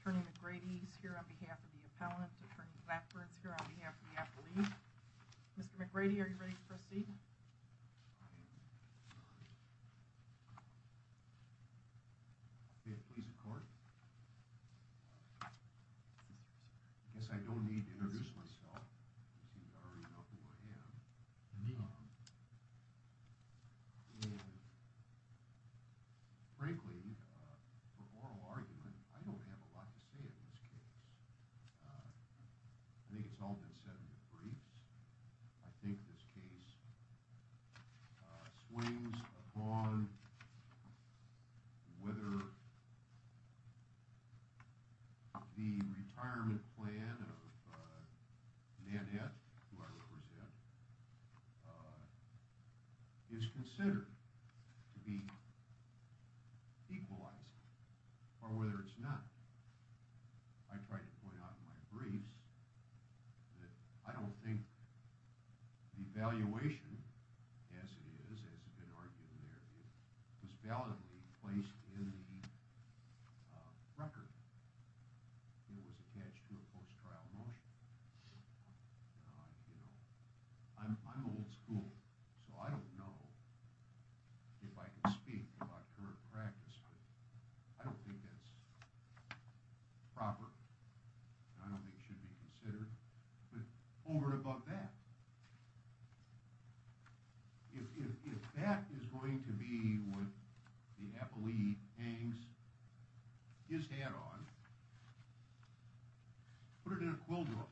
Attorney McGrady is here on behalf of the appellant. Attorney Blackburn is here on behalf of the appellee. Mr. McGrady, are you ready to proceed? I am, Your Honor. May it please the court? I guess I don't need to introduce myself. It seems I already know who I am. Frankly, for oral argument, I don't have a lot to say in this case. I think it's all been said in the briefs. I think this case swings upon whether the retirement plan of Nanette, who I represent, is considered to be equalizing, or whether it's not. I tried to point out in my briefs that I don't think the evaluation, as it is, as has been argued in the interview, was validly placed in the record. It was attached to a post-trial motion. I'm old school, so I don't know if I can speak about current practice. I don't think that's proper. I don't think it should be considered. But over and above that, if that is going to be what the appellee hangs his hat on, put it in a quill drawer.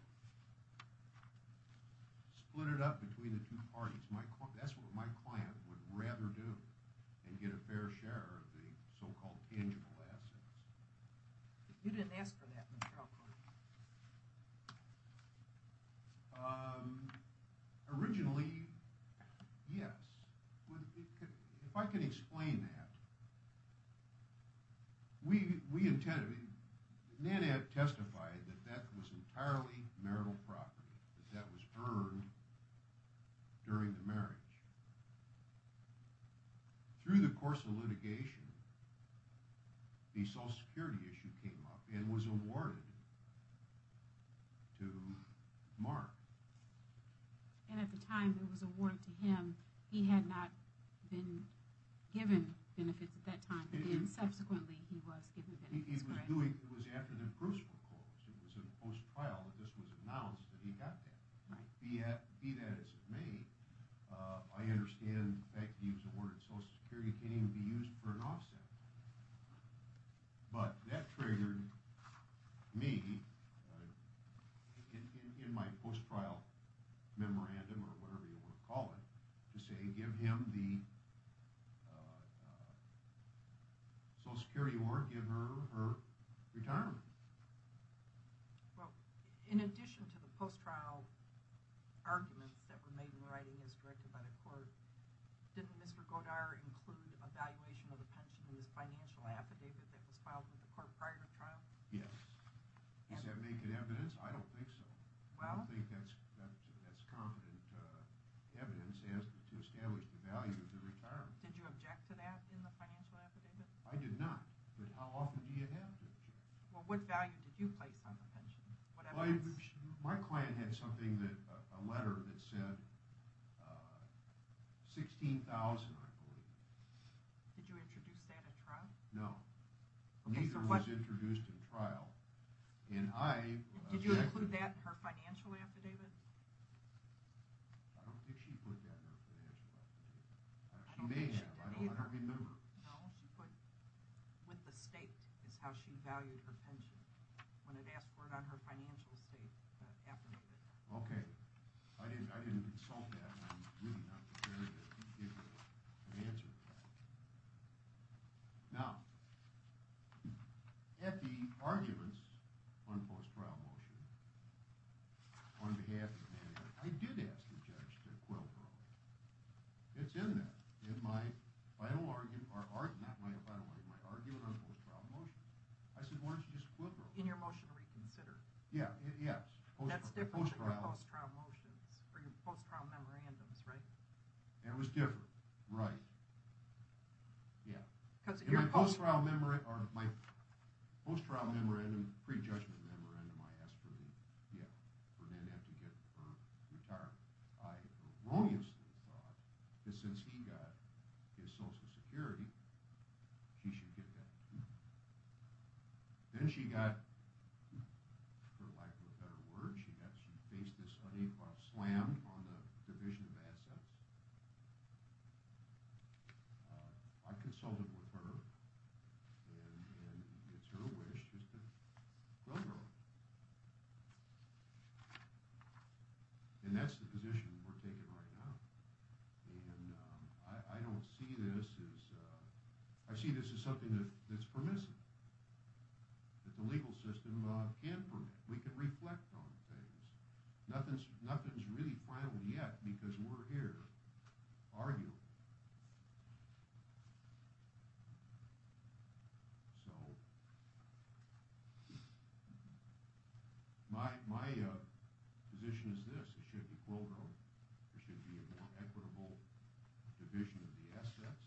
Split it up between the two parties. That's what my client would rather do, and get a fair share of the so-called tangible assets. You didn't ask for that, Mr. Alcorn. The Social Security issue came up, and was awarded to Mark. And at the time it was awarded to him, he had not been given benefits at that time. Subsequently, he was given benefits. It was after the Bruce was closed. It was in the post-trial that this was announced that he got that. Be that as it may, I understand the fact that he was awarded Social Security can't even be used for an offset. But that triggered me, in my post-trial memorandum or whatever you want to call it, to say give him the Social Security award, give her her retirement. Well, in addition to the post-trial arguments that were made in writing as directed by the court, didn't Mr. Godar include a valuation of the pension in this financial affidavit that was filed with the court prior to trial? Yes. Does that make it evidence? I don't think so. I don't think that's confident evidence to establish the value of the retirement. Did you object to that in the financial affidavit? I did not. But how often do you have to object? Well, what value did you place on the pension? My client had a letter that said $16,000, I believe. Did you introduce that at trial? No. Neither was introduced at trial. Did you include that in her financial affidavit? I don't think she put that in her financial affidavit. She may have. I don't remember. With the state is how she valued her pension when it asked for it on her financial state affidavit. Okay. I didn't consult that and I'm really not prepared to give you an answer to that. Now, at the arguments on the post-trial motion, on behalf of the manager, I did ask the judge to quill parole. It's in there, in my final argument on the post-trial motion. I said, why don't you just quill parole? In your motion to reconsider? Yes. That's different than your post-trial motions, or your post-trial memorandums, right? It was different, right. In my post-trial memorandum, pre-judgment memorandum, I asked for them to have to get her retired. I erroneously thought that since he got his social security, she should get that too. Then she got, for lack of a better word, she faced this unequal slam on the division of assets. I consulted with her and it's her wish just to quill parole. And that's the position we're taking right now. I see this as something that's permissive, that the legal system can't permit. We can reflect on things. Nothing's really final yet because we're here arguing. So, my position is this. It should be quill parole. There should be a more equitable division of the assets.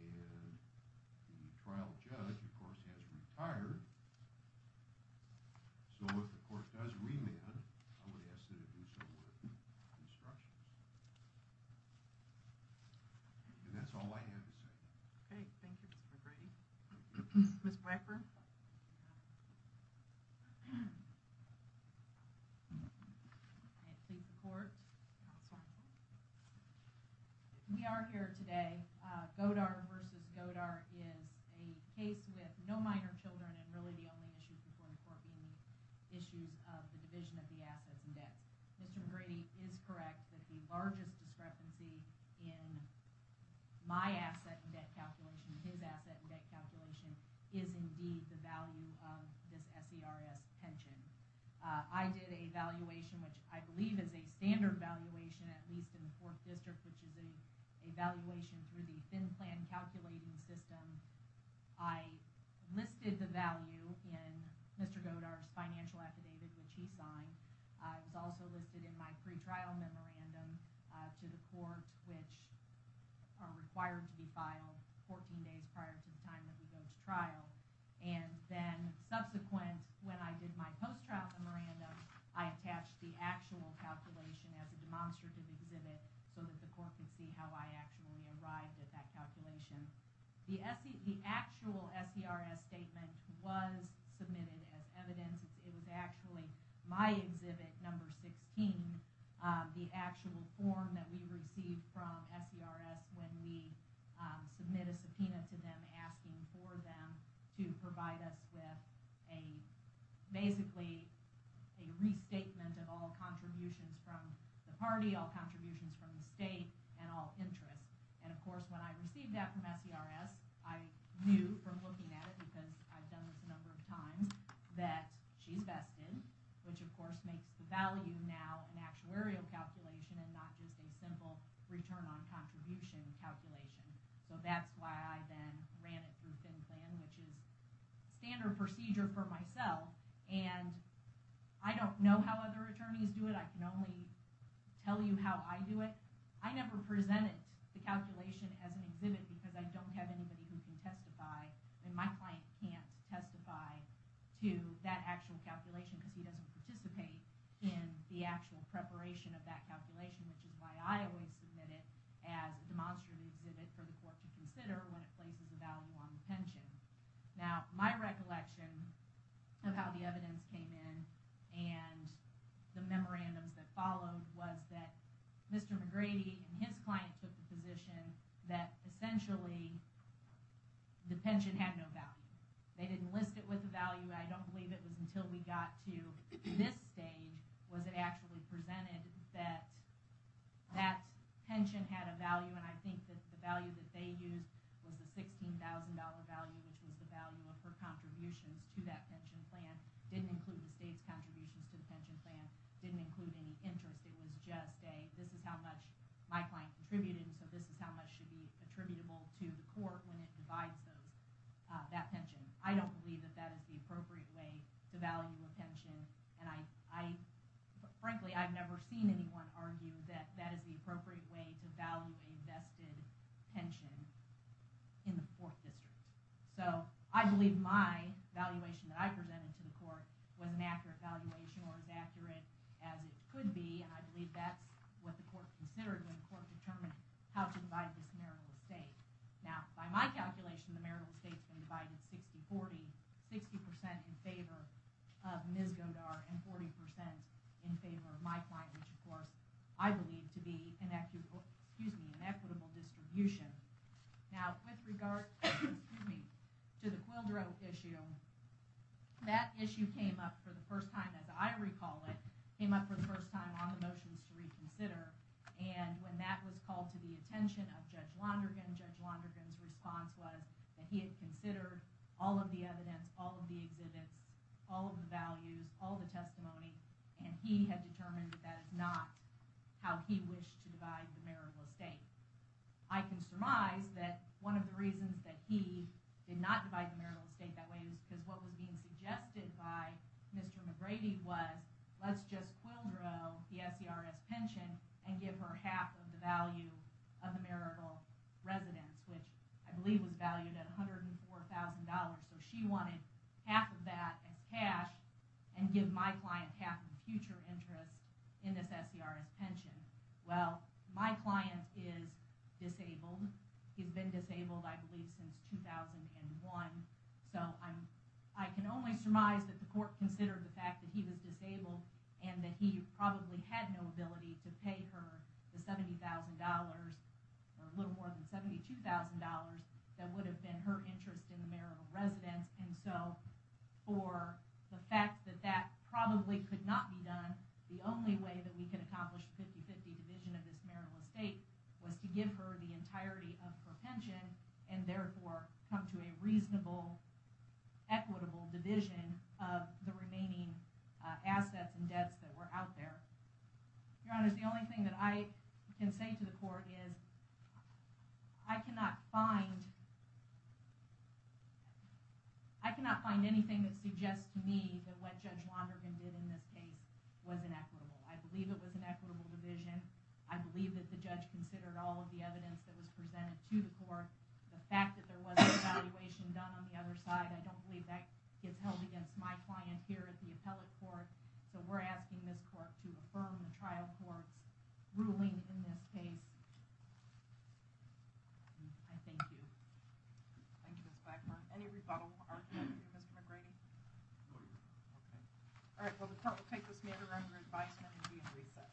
And the trial judge, of course, has retired. So if the court does remand, I would ask that it do so with instructions. And that's all I have to say. Okay. Thank you, Mr. McGrady. Ms. Blackburn. I plead the court. We are here today. Godard v. Godard is a case with no minor children and really the only issues before the court being the issues of the division of the assets and debts. Mr. McGrady is correct that the largest discrepancy in my asset and debt calculation, his asset and debt calculation, is indeed the value of this SERS pension. I did a valuation, which I believe is a standard valuation, at least in the Fourth District, which is a valuation through the thin plan calculating system. I listed the value in Mr. Godard's financial affidavit, which he signed. It was also listed in my pretrial memorandum to the court, which are required to be filed 14 days prior to the time that we go to trial. And then subsequent, when I did my post-trial memorandum, I attached the actual calculation as a demonstrative exhibit so that the court could see how I actually arrived at that calculation. The actual SERS statement was submitted as evidence. It was actually my exhibit number 16, the actual form that we received from SERS when we submit a subpoena to them asking for them to provide us with a, basically, a restatement of all contributions from the party, all contributions from the state, and all interest. And, of course, when I received that from SERS, I knew from looking at it, because I've done this a number of times, that she's vested, which, of course, makes the value now an actuarial calculation and not just a simple return on contribution calculation. So that's why I then ran it through thin plan, which is standard procedure for myself. And I don't know how other attorneys do it. I can only tell you how I do it. I never presented the calculation as an exhibit because I don't have anybody who can testify, and my client can't testify to that actual calculation because he doesn't participate in the actual preparation of that calculation, which is why I always submit it as a demonstrative exhibit for the court to consider when it places a value on the pension. Now, my recollection of how the evidence came in and the memorandums that followed was that Mr. McGrady and his client took the position that, essentially, the pension had no value. They didn't list it with a value. I don't believe it was until we got to this stage was it actually presented that that pension had a value. And I think that the value that they used was the $16,000 value, which was the value of her contributions to that pension plan. It didn't include the state's contributions to the pension plan. It didn't include any interest. It was just a, this is how much my client contributed, and so this is how much should be attributable to the court when it divides those. I don't believe that that is the appropriate way to value a pension, and I, frankly, I've never seen anyone argue that that is the appropriate way to value a vested pension in the Fourth District. So, I believe my valuation that I presented to the court was an accurate valuation, or as accurate as it could be, and I believe that's what the court considered when the court determined how to divide this marital estate. Now, by my calculation, the marital estate's been divided 60-40, 60% in favor of Ms. Goddard and 40% in favor of my client, which, of course, I believe to be an equitable, excuse me, an equitable distribution. Now, with regard, excuse me, to the Quildrow issue, that issue came up for the first time, as I recall it, came up for the first time on the motions to reconsider, and when that was called to the attention of Judge Londergan, Judge Londergan's response was that he had considered all of the evidence, all of the exhibits, all of the values, all of the testimony, and he had determined that that is not how he wished to divide the marital estate. I can surmise that one of the reasons that he did not divide the marital estate that way is because what was being suggested by Mr. McGrady was, let's just Quildrow the SERS pension and give her half of the value of the marital residence, which I believe was valued at $104,000, so she wanted half of that as cash and give my client half of the future interest in this SERS pension. Well, my client is disabled. He's been disabled, I believe, since 2001, so I can only surmise that the court considered the fact that he was disabled and that he probably had no ability to pay her the $70,000 or a little more than $72,000 that would have been her interest in the marital residence, and so for the fact that that probably could not be done, the only way that we could accomplish the 50-50 division of this marital estate was to give her the entirety of her pension and therefore come to a reasonable, equitable division of the remaining assets and debts that were out there. Your Honor, the only thing that I can say to the court is I cannot find anything that suggests to me that what Judge Londergan did in this case was inequitable. I believe it was an equitable division. I believe that the judge considered all of the evidence that was presented to the court. The fact that there was an evaluation done on the other side, I don't believe that gets held against my client here at the appellate court, so we're asking this court to affirm the trial court's ruling in this case. I thank you. Thank you, Ms. Blackburn. Any rebuttal, Mr. McGrady? No, Your Honor. Okay. All right, well, the court will take this matter under advisement and be in recess.